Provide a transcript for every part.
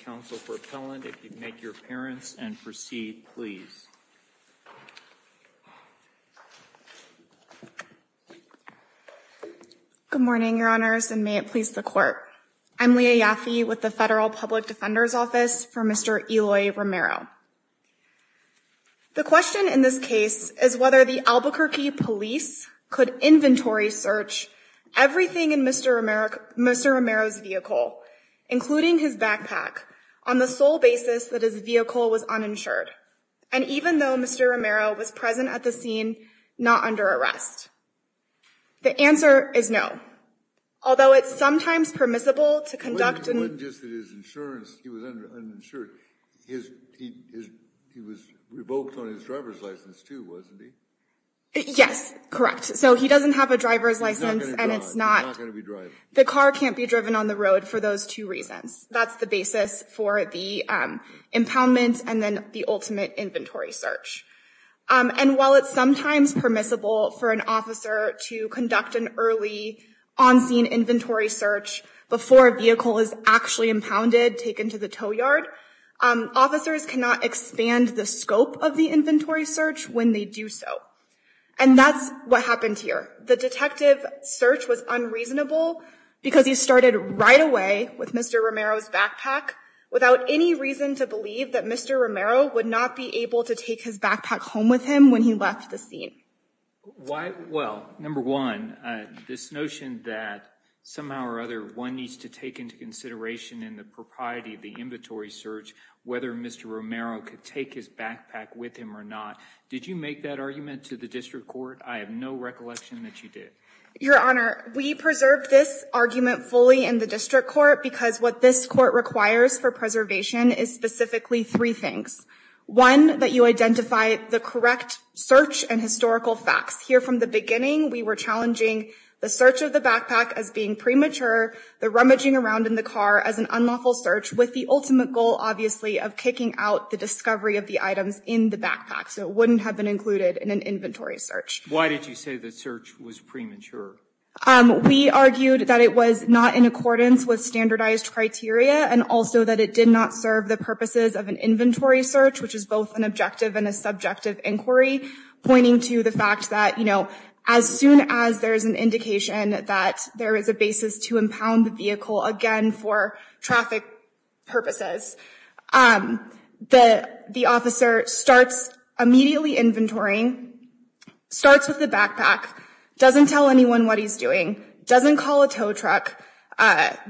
Counsel for Appellant, if you would make your appearance and proceed, please. Good morning, Your Honors, and may it please the Court. I'm Leah Yaffe with the Federal Public Defender's Office for Mr. Eloy Romero. The question in this case is whether the Albuquerque police could inventory search everything in Mr. Romero's vehicle, including his backpack, on the sole basis that his vehicle was uninsured, and even though Mr. Romero was present at the scene, not under arrest. The answer is no. Although it's sometimes permissible to conduct an- It wasn't just that his insurance, he was uninsured. He was revoked on his driver's license too, wasn't he? Yes, correct. So he doesn't have a driver's license and it's not- He's not gonna be driving. The car can't be driven on the road for those two reasons. That's the basis for the impoundment and then the ultimate inventory search. And while it's sometimes permissible for an officer to conduct an early on-scene inventory search before a vehicle is actually impounded, taken to the tow yard, officers cannot expand the scope of the inventory search when they do so. And that's what happened here. The detective search was unreasonable because he started right away with Mr. Romero's backpack without any reason to believe that Mr. Romero would not be able to take his backpack home with him when he left the scene. Why- Well, number one, this notion that somehow or other one needs to take into consideration in the propriety of the inventory search whether Mr. Romero could take his backpack with him or not. Did you make that argument to the district court? I have no recollection that you did. Your Honor, we preserved this argument fully in the district court because what this court requires for preservation is specifically three things. One, that you identify the correct search and historical facts. Here from the beginning, we were challenging the search of the backpack as being premature, the rummaging around in the car as an unlawful search with the ultimate goal, obviously, of kicking out the discovery of the items in the backpack. So it wouldn't have been included in an inventory search. Why did you say the search was premature? We argued that it was not in accordance with standardized criteria and also that it did not serve the purposes of an inventory search, which is both an objective and a subjective inquiry, pointing to the fact that, you know, as soon as there is an indication that there is a basis to impound the vehicle again for traffic purposes, the officer starts immediately inventorying, starts with the backpack, doesn't tell anyone what he's doing, doesn't call a tow truck,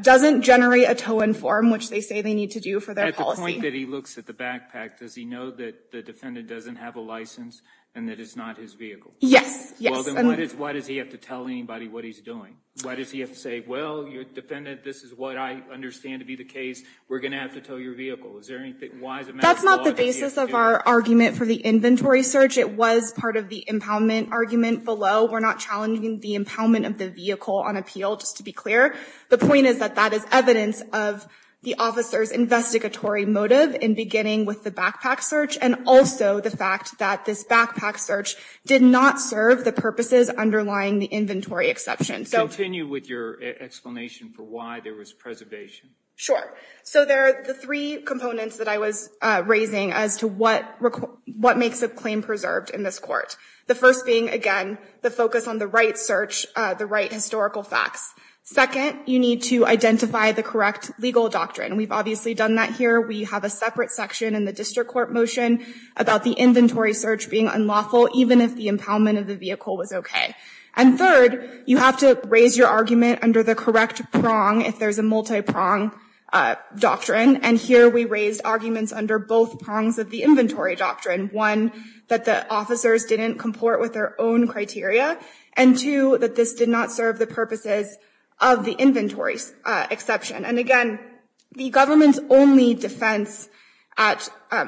doesn't generate a tow-in form, which they say they need to do for their policy. At the point that he looks at the backpack, does he know that the defendant doesn't have a license and that it's not his vehicle? Yes. Yes. Well, then why does he have to tell anybody what he's doing? Why does he have to say, well, your defendant, this is what I understand to be the case. We're going to have to tow your vehicle. Is there anything? Why is it a matter of law that he's doing? That's not the basis of our argument for the inventory search. It was part of the impoundment argument below. We're not challenging the impoundment of the vehicle on appeal, just to be clear. The point is that that is evidence of the officer's investigatory motive in beginning with the backpack search, and also the fact that this backpack search did not serve the purposes underlying the inventory exception. So continue with your explanation for why there was preservation. Sure. So there are the three components that I was raising as to what makes a claim preserved in this court. The first being, again, the focus on the right search, the right historical facts. Second, you need to identify the correct legal doctrine. We've obviously done that here. We have a separate section in the district court motion about the inventory search being unlawful, even if the impoundment of the vehicle was OK. And third, you have to raise your argument under the correct prong, if there's a multi-prong doctrine. And here we raised arguments under both prongs of the inventory doctrine. One, that the officers didn't comport with their own criteria. And two, that this did not serve the purposes of the inventory exception. And again, the government's only defense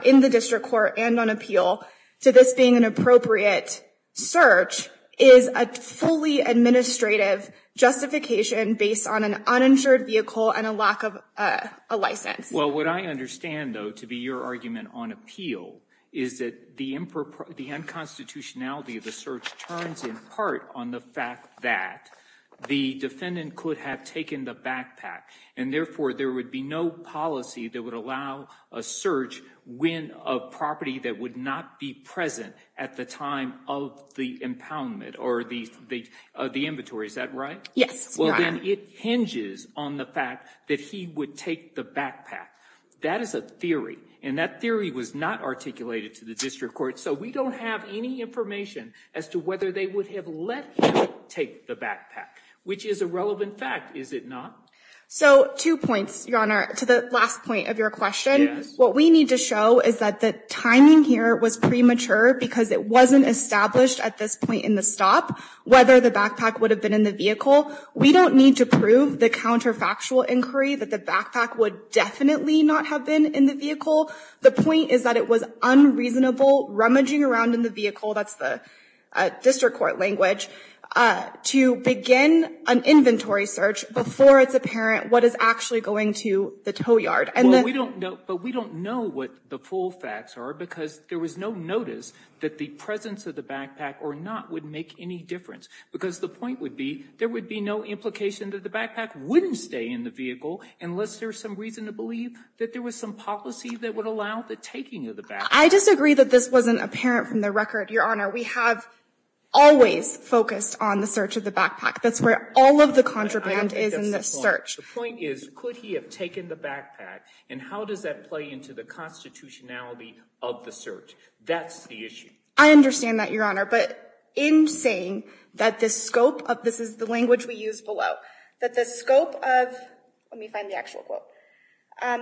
in the district court and on appeal to this being an appropriate search is a fully administrative justification based on an uninsured vehicle and a lack of a license. Well, what I understand, though, to be your argument on appeal is that the unconstitutionality of the search turns in part on the fact that the defendant could have taken the backpack. And therefore, there would be no policy that would allow a search when a property that would not be present at the time of the impoundment or the inventory. Is that right? Yes. Well, then it hinges on the fact that he would take the backpack. That is a theory. And that theory was not articulated to the district court. So we don't have any information as to whether they would have let him take the backpack, which is a relevant fact, is it not? So two points, Your Honor, to the last point of your question. What we need to show is that the timing here was premature because it wasn't established at this point in the stop whether the backpack would have been in the vehicle. We don't need to prove the counterfactual inquiry that the backpack would definitely not have been in the vehicle. The point is that it was unreasonable rummaging around in the vehicle. That's the district court language to begin an inventory search before it's apparent what is actually going to the tow yard. But we don't know what the full facts are because there was no notice that the presence of the backpack or not would make any difference. Because the point would be there would be no implication that the backpack wouldn't stay in the vehicle unless there's some reason to believe that there was some policy that would allow the taking of the backpack. I disagree that this wasn't apparent from the record, Your Honor. We have always focused on the search of the backpack. That's where all of the contraband is in this search. The point is, could he have taken the backpack and how does that play into the constitutionality of the search? That's the issue. I understand that, Your Honor. But in saying that the scope of, this is the language we use below, that the scope of, let me find the actual quote.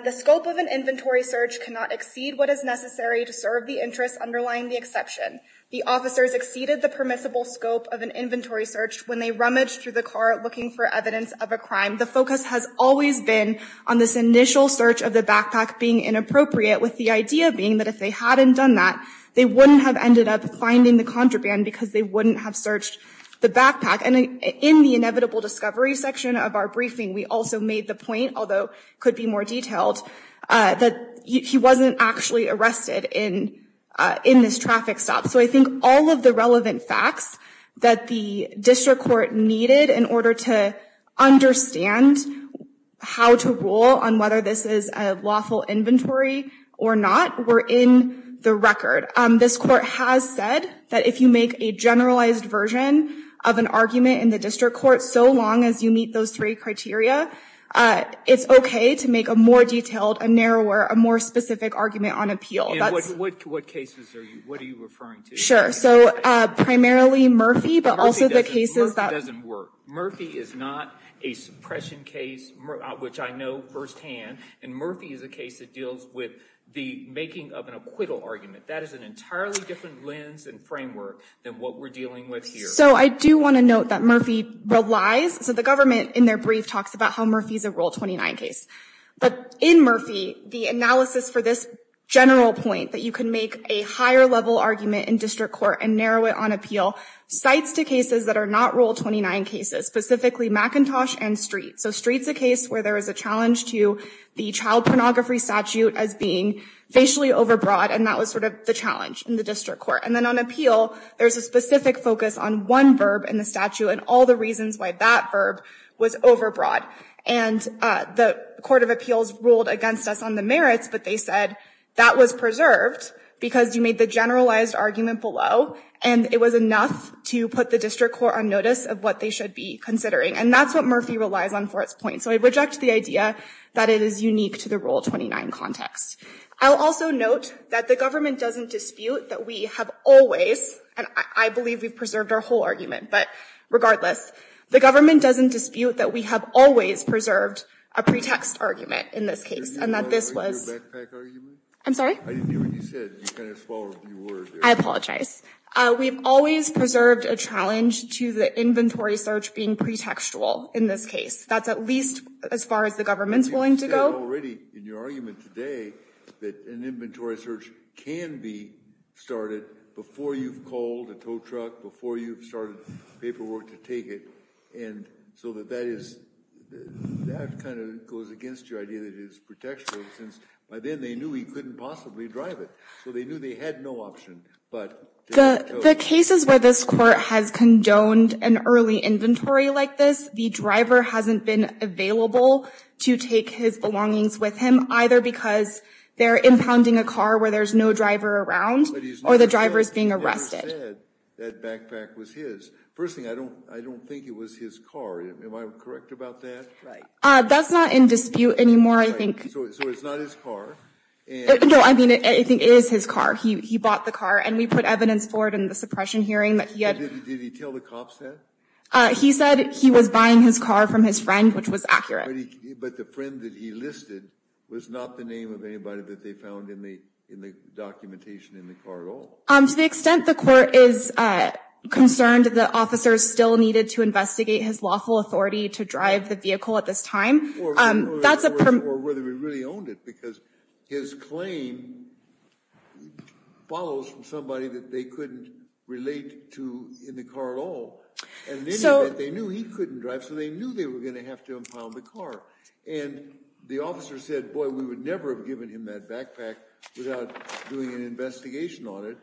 The scope of an inventory search cannot exceed what is necessary to serve the interests underlying the exception. The officers exceeded the permissible scope of an inventory search when they rummaged through the car looking for evidence of a crime. The focus has always been on this initial search of the backpack being inappropriate with the idea being that if they hadn't done that, they wouldn't have ended up finding the contraband because they wouldn't have searched the backpack. And in the inevitable discovery section of our briefing, we also made the point, although could be more detailed, that he wasn't actually arrested in this traffic stop. So I think all of the relevant facts that the district court needed in order to understand how to rule on whether this is a lawful inventory or not were in the record. This court has said that if you make a generalized version of an argument in the district court so long as you meet those three criteria, it's okay to make a more detailed, a narrower, a more specific argument on appeal. And what cases are you, what are you referring to? Sure. So primarily Murphy, but also the cases that... Murphy doesn't work. Murphy is not a suppression case, which I know firsthand. And Murphy is a case that deals with the making of an acquittal argument. That is an entirely different lens and framework than what we're dealing with here. So I do want to note that Murphy relies, so the government in their brief talks about how Murphy's a Rule 29 case. But in Murphy, the analysis for this general point that you can make a higher level argument in district court and narrow it on appeal, cites to cases that are not Rule 29 cases, specifically McIntosh and Street. So Street's a case where there is a challenge to the child pornography statute as being facially overbroad. And that was sort of the challenge in the district court. And then on appeal, there's a specific focus on one verb in the statute and all the reasons why that verb was overbroad. And the Court of Appeals ruled against us on the merits, but they said that was preserved because you made the generalized argument below. And it was enough to put the district court on notice of what they should be considering. And that's what Murphy relies on for its point. So I reject the idea that it is unique to the Rule 29 context. I'll also note that the government doesn't dispute that we have always, and I believe we've preserved our whole argument, but regardless, the government doesn't dispute that we have always preserved a pretext argument in this case. And that this was... I'm sorry? I didn't hear what you said. You kind of swallowed your word there. I apologize. We've always preserved a challenge to the inventory search being pretextual in this case. That's at least as far as the government's willing to go. But you said already in your argument today that an inventory search can be started before you've called a tow truck, before you've started paperwork to take it. And so that that is... That kind of goes against your idea that it is pretextual, since by then they knew he couldn't possibly drive it. So they knew they had no option, but... The cases where this court has condoned an early inventory like this, the driver hasn't been available to take his belongings with him, either because they're impounding a car where there's no driver around, or the driver is being arrested. You said that backpack was his. First thing, I don't think it was his car. Am I correct about that? Right. That's not in dispute anymore, I think. So it's not his car? No, I mean, I think it is his car. He bought the car and we put evidence for it in the suppression hearing that he had... Did he tell the cops that? He said he was buying his car from his friend, which was accurate. But the friend that he listed was not the name of anybody that they found in the documentation in the car at all. To the extent the court is concerned that officers still needed to investigate his lawful authority to drive the vehicle at this time, that's a... Or whether he really owned it, because his claim follows from somebody that they couldn't relate to in the car at all. And in any event, they knew he couldn't drive, so they knew they were going to have to impound the car. And the officer said, boy, we would never have given him that backpack without doing an investigation on it.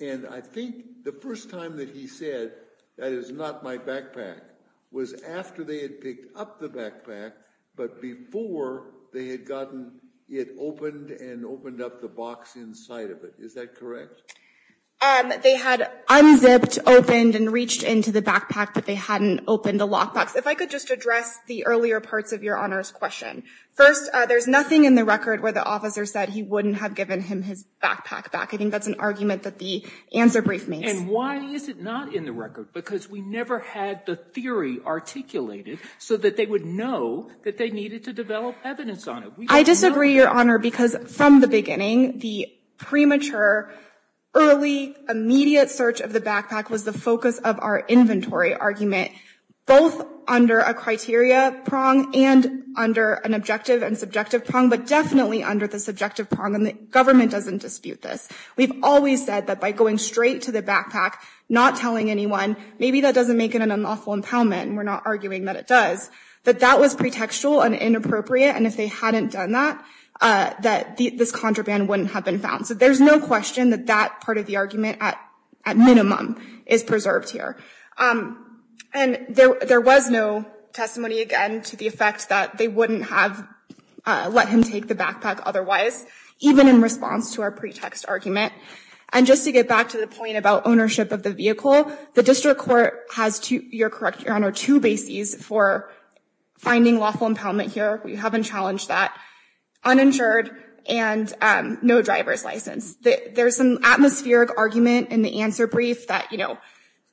And I think the first time that he said, that is not my backpack, was after they had picked up the backpack, but before they had gotten it opened and opened up the box inside of it. Is that correct? They had unzipped, opened, and reached into the backpack, but they hadn't opened the lockbox. If I could just address the earlier parts of Your Honor's question. First, there's nothing in the record where the officer said he wouldn't have given him his backpack back. I think that's an argument that the answer brief makes. And why is it not in the record? Because we never had the theory articulated so that they would know that they needed to develop evidence on it. I disagree, Your Honor, because from the beginning, the premature, early, immediate search of the backpack was the focus of our inventory argument. Both under a criteria prong and under an objective and subjective prong, but definitely under the subjective prong, and the government doesn't dispute this. We've always said that by going straight to the backpack, not telling anyone, maybe that doesn't make it an unlawful impoundment, and we're not arguing that it does, that that was pretextual and inappropriate. And if they hadn't done that, that this contraband wouldn't have been found. So there's no question that that part of the argument at minimum is preserved here. And there was no testimony, again, to the effect that they wouldn't have let him take the backpack otherwise, even in response to our pretext argument. And just to get back to the point about ownership of the vehicle, the district court has, Your Honor, two bases for finding lawful impoundment here. We haven't challenged that. Uninsured and no driver's license. There's an atmospheric argument in the answer brief that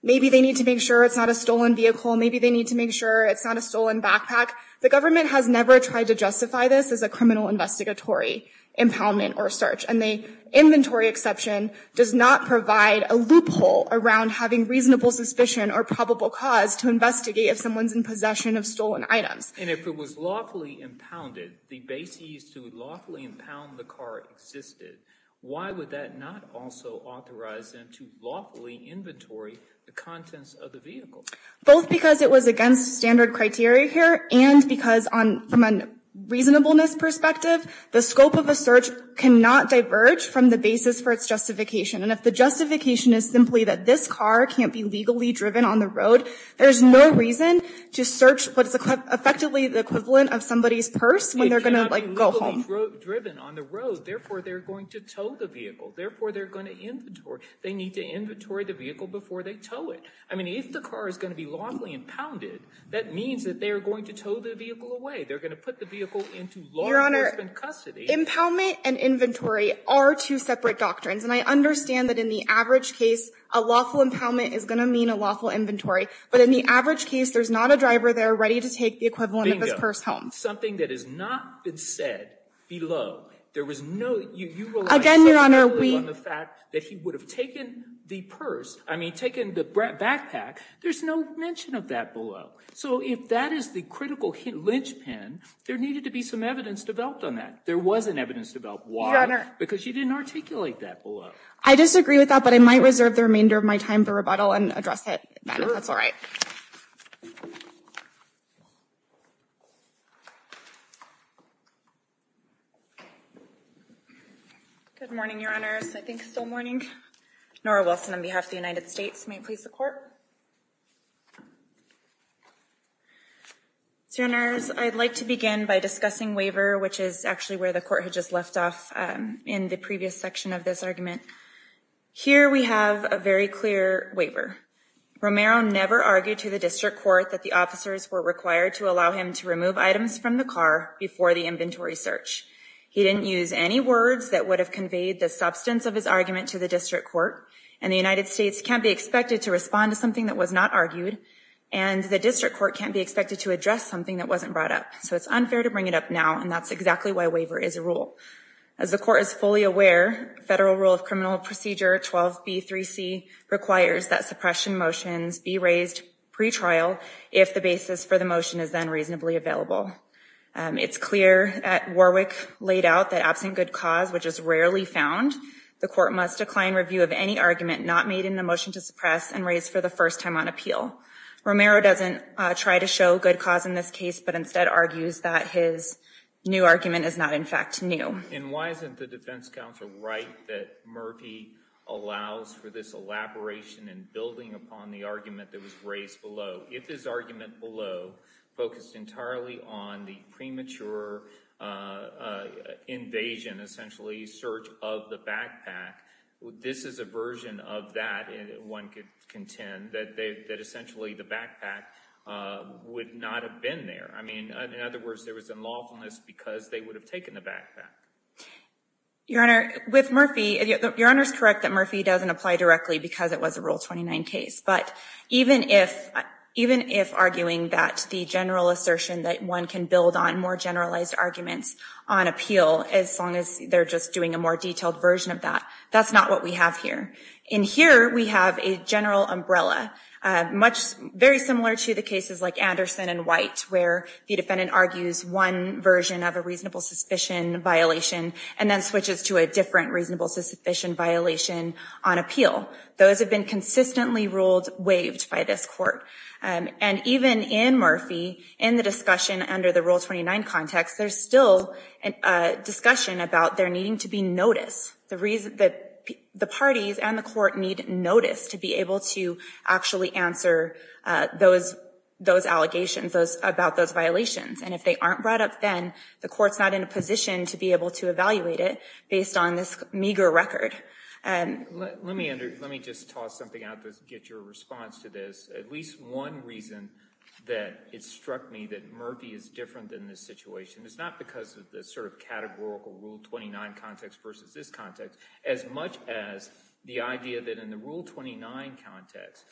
maybe they need to make sure it's not a stolen vehicle, maybe they need to make sure it's not a stolen backpack. The government has never tried to justify this as a criminal investigatory impoundment or search. And the inventory exception does not provide a loophole around having reasonable suspicion or probable cause to investigate if someone's in possession of stolen items. And if it was lawfully impounded, the bases to lawfully impound the car existed, why would that not also authorize them to lawfully inventory the contents of the vehicle? Both because it was against standard criteria here and because from a reasonableness perspective, the scope of a search cannot diverge from the basis for its justification. And if the justification is simply that this car can't be legally driven on the road, there's no reason to search what's effectively the equivalent of somebody's purse when they're going to go home. Driven on the road, therefore, they're going to tow the vehicle. Therefore, they're going to inventory. They need to inventory the vehicle before they tow it. I mean, if the car is going to be lawfully impounded, that means that they are going to tow the vehicle away. They're going to put the vehicle into law enforcement custody. Impoundment and inventory are two separate doctrines. And I understand that in the average case, a lawful impoundment is going to mean a lawful inventory. But in the average case, there's not a driver there ready to take the equivalent of his purse home. Something that has not been said below. There was no, you rely on the fact that he would have taken the purse. I mean, taken the backpack. There's no mention of that below. So if that is the critical linchpin, there needed to be some evidence developed on that. There was an evidence developed. Why? Because you didn't articulate that below. I disagree with that, but I might reserve the remainder of my time for rebuttal and address it then if that's all right. Good morning, Your Honors. I think it's still morning. Nora Wilson on behalf of the United States. May it please the court. Senators, I'd like to begin by discussing waiver, which is actually where the court had just left off in the previous section of this argument. Here we have a very clear waiver. Romero never argued to the district court that the officers were required to allow him to remove items from the vehicle. He didn't use any words that would have conveyed the substance of his argument to the district court. And the United States can't be expected to respond to something that was not argued. And the district court can't be expected to address something that wasn't brought up. So it's unfair to bring it up now. And that's exactly why waiver is a rule. As the court is fully aware, Federal Rule of Criminal Procedure 12b3c requires that suppression motions be raised pre-trial if the basis for the motion is then reasonably available. It's clear that Warwick laid out that absent good cause, which is rarely found, the court must decline review of any argument not made in the motion to suppress and raise for the first time on appeal. Romero doesn't try to show good cause in this case, but instead argues that his new argument is not, in fact, new. And why isn't the defense counsel right that Murphy allows for this elaboration and building upon the argument that was raised below? If his argument below focused entirely on the premature invasion, essentially search of the backpack, this is a version of that one could contend, that essentially the backpack would not have been there. I mean, in other words, there was a lawfulness because they would have taken the backpack. Your Honor, with Murphy, your Honor is correct that Murphy doesn't apply directly because it was a Rule 29 case. But even if arguing that the general assertion that one can build on more generalized arguments on appeal as long as they're just doing a more detailed version of that, that's not what we have here. In here, we have a general umbrella, much very similar to the cases like Anderson and White, where the defendant argues one version of a reasonable suspicion violation and then switches to a different reasonable suspicion violation on appeal. Those have been consistently ruled waived by this court. And even in Murphy, in the discussion under the Rule 29 context, there's still a discussion about there needing to be notice. The parties and the court need notice to be able to actually answer those allegations, about those violations. And if they aren't brought up then, the court's not in a position to be able to evaluate it based on this meager record. And let me just toss something out to get your response to this. At least one reason that it struck me that Murphy is different than this situation is not because of the sort of categorical Rule 29 context versus this context, as much as the idea that in the Rule 29 context,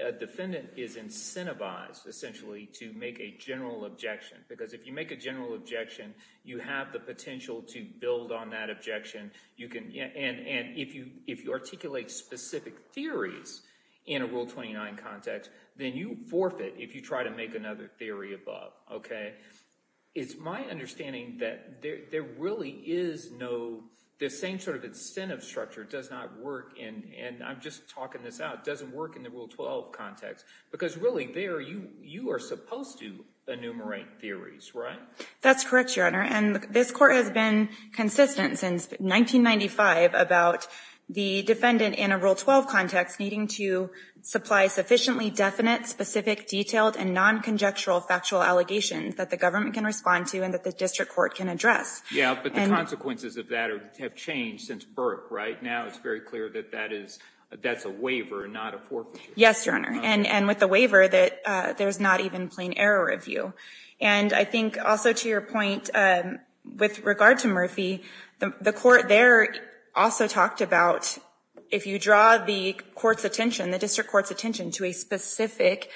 a defendant is incentivized essentially to make a general objection. Because if you make a general objection, you have the potential to build on that objection. And if you articulate specific theories in a Rule 29 context, then you forfeit if you try to make another theory above. It's my understanding that there really is no, the same sort of incentive structure does not work in, and I'm just talking this out, doesn't work in the Rule 12 context. Because really there, you are supposed to enumerate theories, right? That's correct, Your Honor. And this court has been consistent since 1995 about the defendant in a Rule 12 context needing to supply sufficiently definite, specific, detailed, and non-conjectural factual allegations that the government can respond to and that the district court can address. Yeah, but the consequences of that have changed since Burke, right? Now it's very clear that that is, that's a waiver, not a forfeiture. Yes, Your Honor. And with the waiver, there's not even plain error review. And I think also to your point, with regard to Murphy, the court there also talked about, if you draw the court's attention, the district court's attention to a specific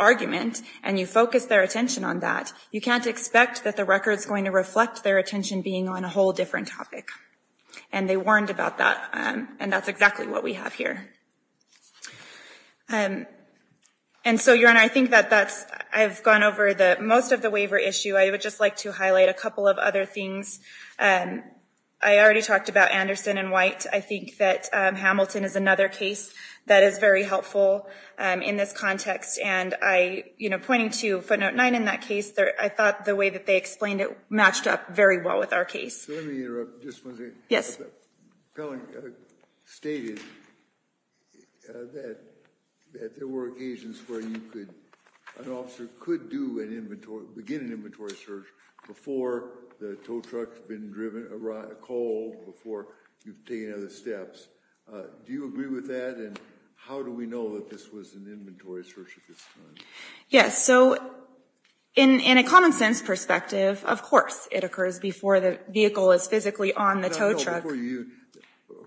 argument and you focus their attention on that, you can't expect that the record's going to reflect their attention being on a whole different topic. And they warned about that, and that's exactly what we have here. And so, Your Honor, I think that that's, I've gone over the, most of the waiver issue. I would just like to highlight a couple of other things. I already talked about Anderson and White. I think that Hamilton is another case that is very helpful in this context. And I, you know, pointing to footnote 9 in that case, I thought the way that they explained it matched up very well with our case. So let me interrupt just one second. Yes. Pelling stated that there were occasions where you could, an officer could do an inventory, begin an inventory search before the tow truck's been driven, called before you've taken other steps. Do you agree with that? And how do we know that this was an inventory search at this time? Yes. So in a common sense perspective, of course, it occurs before the vehicle is physically on the tow truck. You,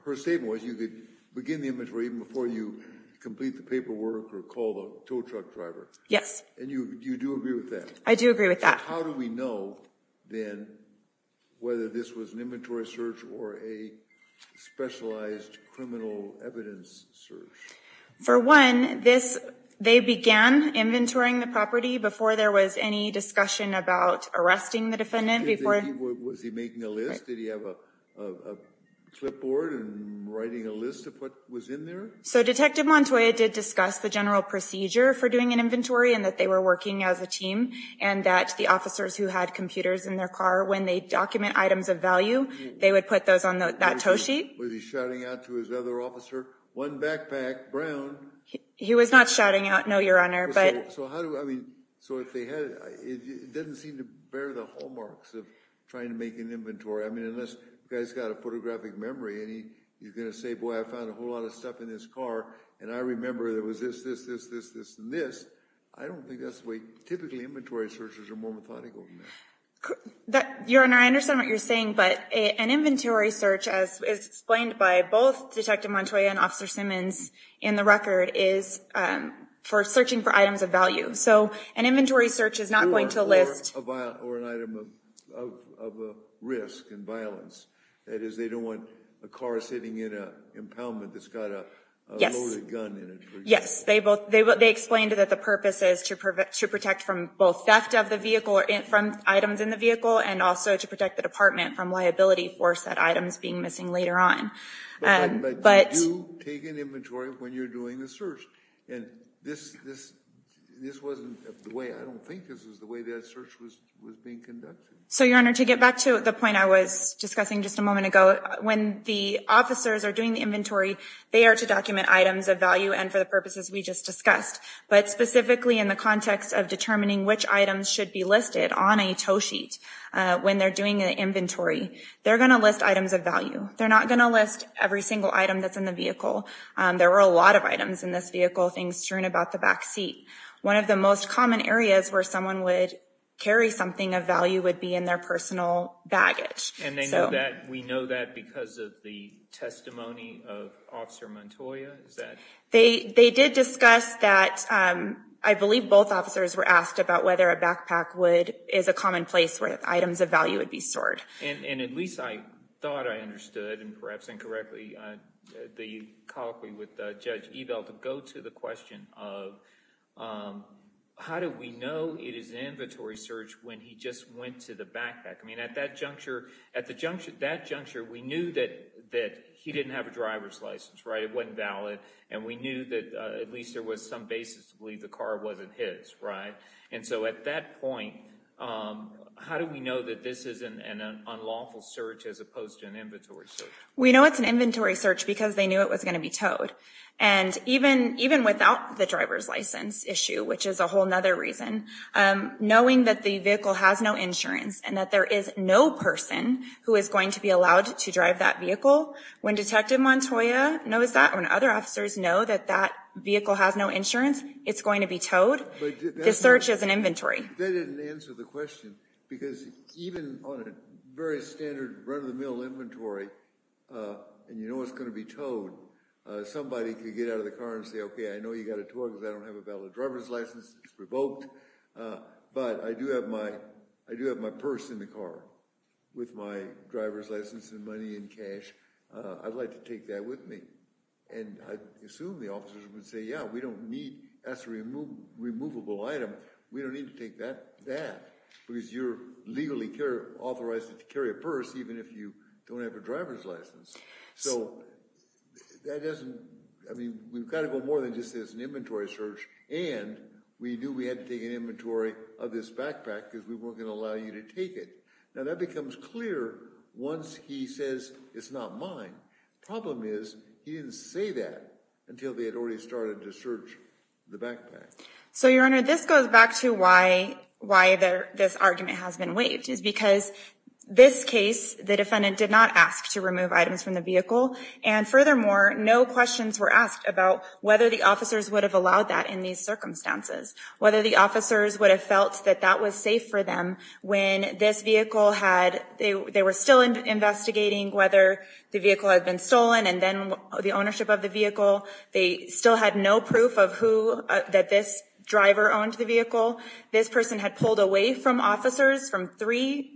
her statement was you could begin the inventory even before you complete the paperwork or call the tow truck driver. Yes. And you do agree with that? I do agree with that. How do we know then whether this was an inventory search or a specialized criminal evidence search? For one, this, they began inventorying the property before there was any discussion about arresting the defendant before. Was he making a list? Did he have a clipboard and writing a list of what was in there? So Detective Montoya did discuss the general procedure for doing an inventory and that they were working as a team and that the officers who had computers in their car, when they document items of value, they would put those on that tow sheet. Was he shouting out to his other officer, one backpack, brown? He was not shouting out, no, your honor, but. So how do, I mean, so if they had, it doesn't seem to bear the hallmarks of trying to make an inventory. I mean, unless the guy's got a photographic memory and he's going to say, boy, I found a whole lot of stuff in his car and I remember there was this, this, this, this, this, and this. I don't think that's the way, typically, inventory searches are more methodical. Your honor, I understand what you're saying, but an inventory search, as is explained by both Detective Montoya and Officer Simmons in the record, is for searching for items of value. So an inventory search is not going to list. Or an item of risk and violence. That is, they don't want a car sitting in an impoundment that's got a loaded gun in it. Yes, they explained that the purpose is to protect from both theft of the vehicle, from items in the vehicle, and also to protect the department from liability for said items being missing later on. But you do take an inventory when you're doing the search. And this, this, this wasn't the way, I don't think this was the way that search was being conducted. So your honor, to get back to the point I was discussing just a moment ago, when the officers are doing the inventory, they are to document items of value and for the purposes we just discussed. But specifically in the context of determining which items should be listed on a tow sheet when they're doing an inventory, they're going to list items of value. They're not going to list every single item that's in the vehicle. There were a lot of items in this vehicle, things strewn about the back seat. One of the most common areas where someone would carry something of value would be in their personal baggage. And they know that, we know that because of the testimony of Officer Montoya, is that? They, they did discuss that, I believe both officers were asked about whether a backpack would, is a common place where items of value would be stored. And, and at least I thought I understood, and perhaps incorrectly, the colloquy with Judge Evel to go to the question of, how do we know it is an inventory search when he just went to the backpack? I mean, at that juncture, at the juncture, that juncture, we knew that, that he didn't have a driver's license, right? It wasn't valid. And we knew that at least there was some basis to believe the car wasn't his, right? And so at that point, how do we know that this is an, an unlawful search as opposed to an inventory search? We know it's an inventory search because they knew it was going to be towed. And even, even without the driver's license issue, which is a whole nother reason, knowing that the vehicle has no insurance and that there is no person who is going to be allowed to drive that vehicle, when Detective Montoya knows that, when other officers know that that vehicle has no insurance, it's going to be towed, the search is an inventory. That didn't answer the question, because even on a very standard run-of-the-mill inventory, and you know it's going to be towed, somebody could get out of the car and say, okay, I know you got a tow because I don't have a valid driver's license. It's revoked. But I do have my, I do have my purse in the car with my driver's license and money and cash. I'd like to take that with me. And I assume the officers would say, yeah, we don't need, that's a remove, removable item. We don't need to take that, that, because you're legally authorized to carry a purse, even if you don't have a driver's license. So that doesn't, I mean, we've got to go more than just say it's an inventory search. And we knew we had to take an inventory of this backpack because we weren't going to allow you to take it. Now that becomes clear once he says it's not mine. Problem is, he didn't say that until they had already started to search the backpack. So, Your Honor, this goes back to why, why this argument has been waived, is because this case, the defendant did not ask to remove items from the vehicle. And furthermore, no questions were asked about whether the officers would have allowed that in these circumstances, whether the officers would have felt that that was safe for them when this vehicle had, they were still investigating whether the vehicle had been stolen and then the ownership of the vehicle. They still had no proof of who, that this driver owned the vehicle. This person had pulled away from officers from three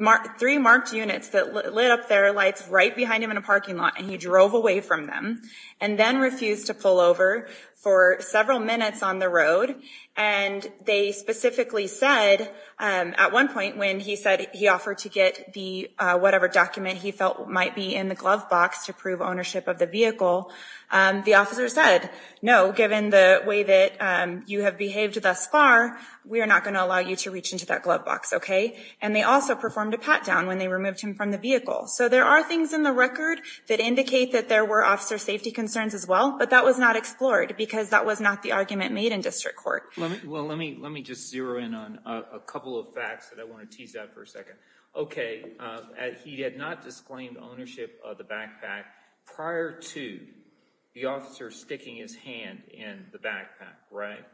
marked units that lit up their lights right behind him in a parking lot and he drove away from them and then refused to pull over for several minutes on the road. And they specifically said, at one point when he said he offered to get the whatever document he felt might be in the glove box to prove ownership of the vehicle, the officer said, no, given the way that you have behaved thus far, we are not going to allow you to reach into that glove box, okay? And they also performed a pat down when they removed him from the vehicle. So there are things in the record that indicate that there were officer safety concerns as well, but that was not explored because that was not the argument made in district court. Well, let me, let me just zero in on a couple of facts that I want to tease out for a second. Okay. He had not disclaimed ownership of the backpack prior to the officer sticking his hand in the backpack, right?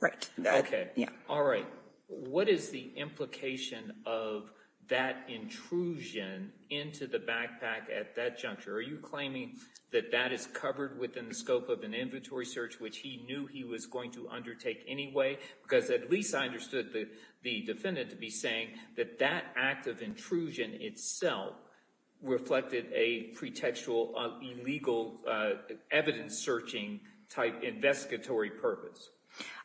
Right. Okay. All right. What is the implication of that intrusion into the backpack at that juncture? Are you claiming that that is covered within the scope of an inventory search, which he knew he was going to undertake anyway? Because at least I understood the defendant to be saying that that act of intrusion itself reflected a pretextual illegal evidence searching type investigatory purpose.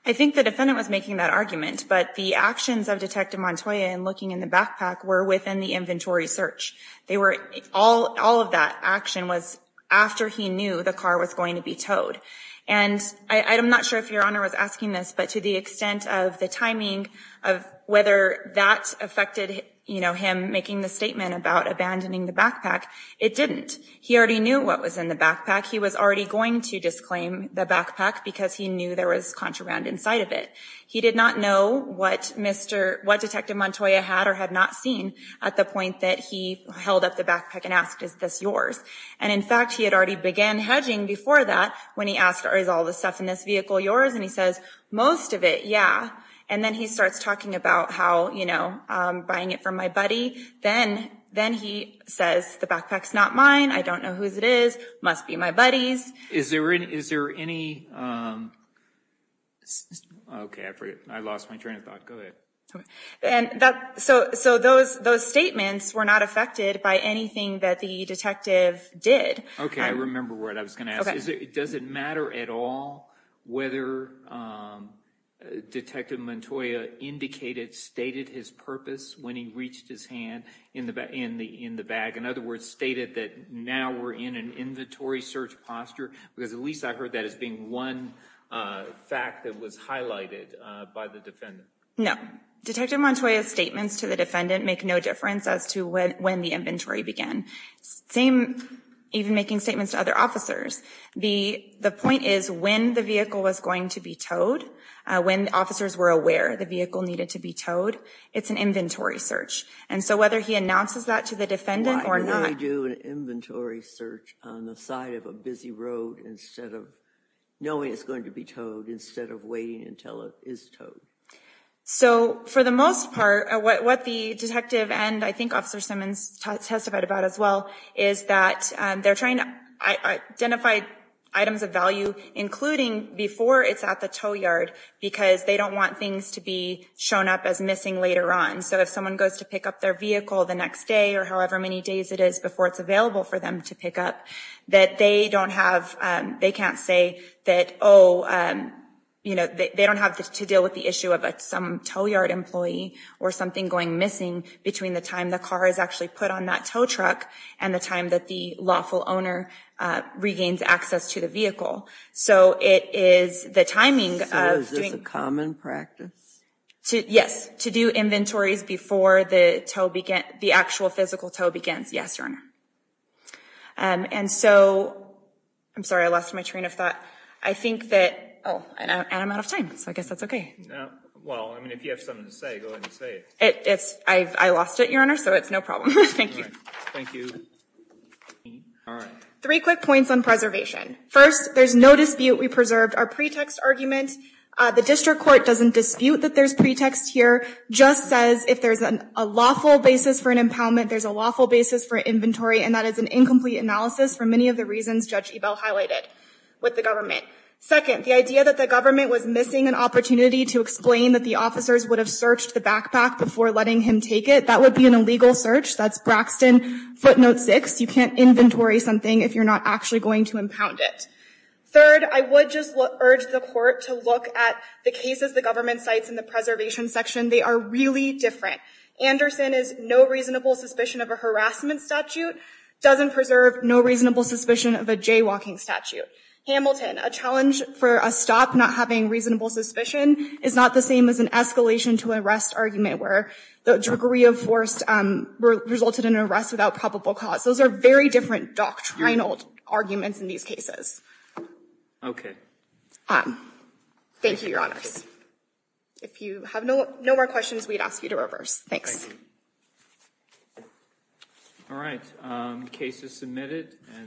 I think the defendant was making that argument, but the actions of Detective Montoya in looking in the backpack were within the inventory search. They were all, all of that action was after he knew the car was going to be towed. And I'm not sure if Your Honor was asking this, but to the extent of the timing of whether that affected, you know, him making the statement about abandoning the backpack, it didn't. He already knew what was in the backpack. He was already going to disclaim the backpack because he knew there was contraband inside of it. He did not know what Mr., what Detective Montoya had or had not seen at the point that he held up the backpack and asked, is this yours? And in fact, he had already began hedging before that when he asked, is all the stuff in this vehicle yours? And he says, most of it, yeah. And then he starts talking about how, you know, buying it from my buddy. Then, then he says, the backpack's not mine. I don't know whose it is. Must be my buddy's. Is there, is there any, okay, I forgot. I lost my train of thought. Go ahead. And that, so, so those, those statements were not affected by anything that the detective did. Okay. I remember what I was going to ask. Does it matter at all whether Detective Montoya indicated, stated his purpose when he reached his hand in the, in the, in the bag? In other words, stated that now we're in an inventory search posture? Because at least I heard that as being one fact that was highlighted by the defendant. No. Detective Montoya's statements to the defendant make no difference as to when, when the inventory began. Same, even making statements to other officers. The, the point is when the vehicle was going to be towed, when officers were aware the vehicle needed to be towed, it's an inventory search. And so whether he announces that to the defendant or not. Why would we do an inventory search on the side of a busy road instead of, knowing it's going to be towed instead of waiting until it is towed? So for the most part, what, what the detective and I think Officer Simmons testified about as well, is that they're trying to identify items of value, including before it's at the tow yard, because they don't want things to be shown up as missing later on. So if someone goes to pick up their vehicle the next day or however many days it is before it's available for them to pick up, that they don't have, they can't say that, oh, you know, they don't have to deal with the issue of some tow yard employee or something going missing between the time the car is actually put on that tow truck and the time that the lawful owner regains access to the vehicle. So it is the timing of doing. So is this a common practice? Yes. To do inventories before the tow begins, the actual physical tow begins. Yes, Your Honor. And so, I'm sorry, I lost my train of thought. I think that, oh, and I'm out of time, so I guess that's okay. Well, I mean, if you have something to say, go ahead and say it. It's, I've, I lost it, Your Honor, so it's no problem. Thank you. Thank you. All right. Three quick points on preservation. First, there's no dispute we preserved our pretext argument. The district court doesn't dispute that there's pretext here, just says if there's a lawful basis for an impoundment, there's a lawful basis for inventory, and that is an incomplete analysis for many of the reasons Judge Ebell highlighted with the government. Second, the idea that the government was missing an opportunity to explain that the officers would have searched the backpack before letting him take it, that would be an illegal search. That's Braxton footnote six. You can't inventory something if you're not actually going to impound it. Third, I would just urge the court to look at the cases the government cites in the preservation section. They are really different. Anderson is no reasonable suspicion of a harassment statute, doesn't preserve no reasonable suspicion of a jaywalking statute. Hamilton, a challenge for a stop not having reasonable suspicion is not the same as an escalation to arrest argument where the druggery of force resulted in an arrest without probable cause. Those are very different doctrinal arguments in these cases. Okay. Thank you, Your Honors. If you have no more questions, we'd ask you to reverse. All right. Case is submitted.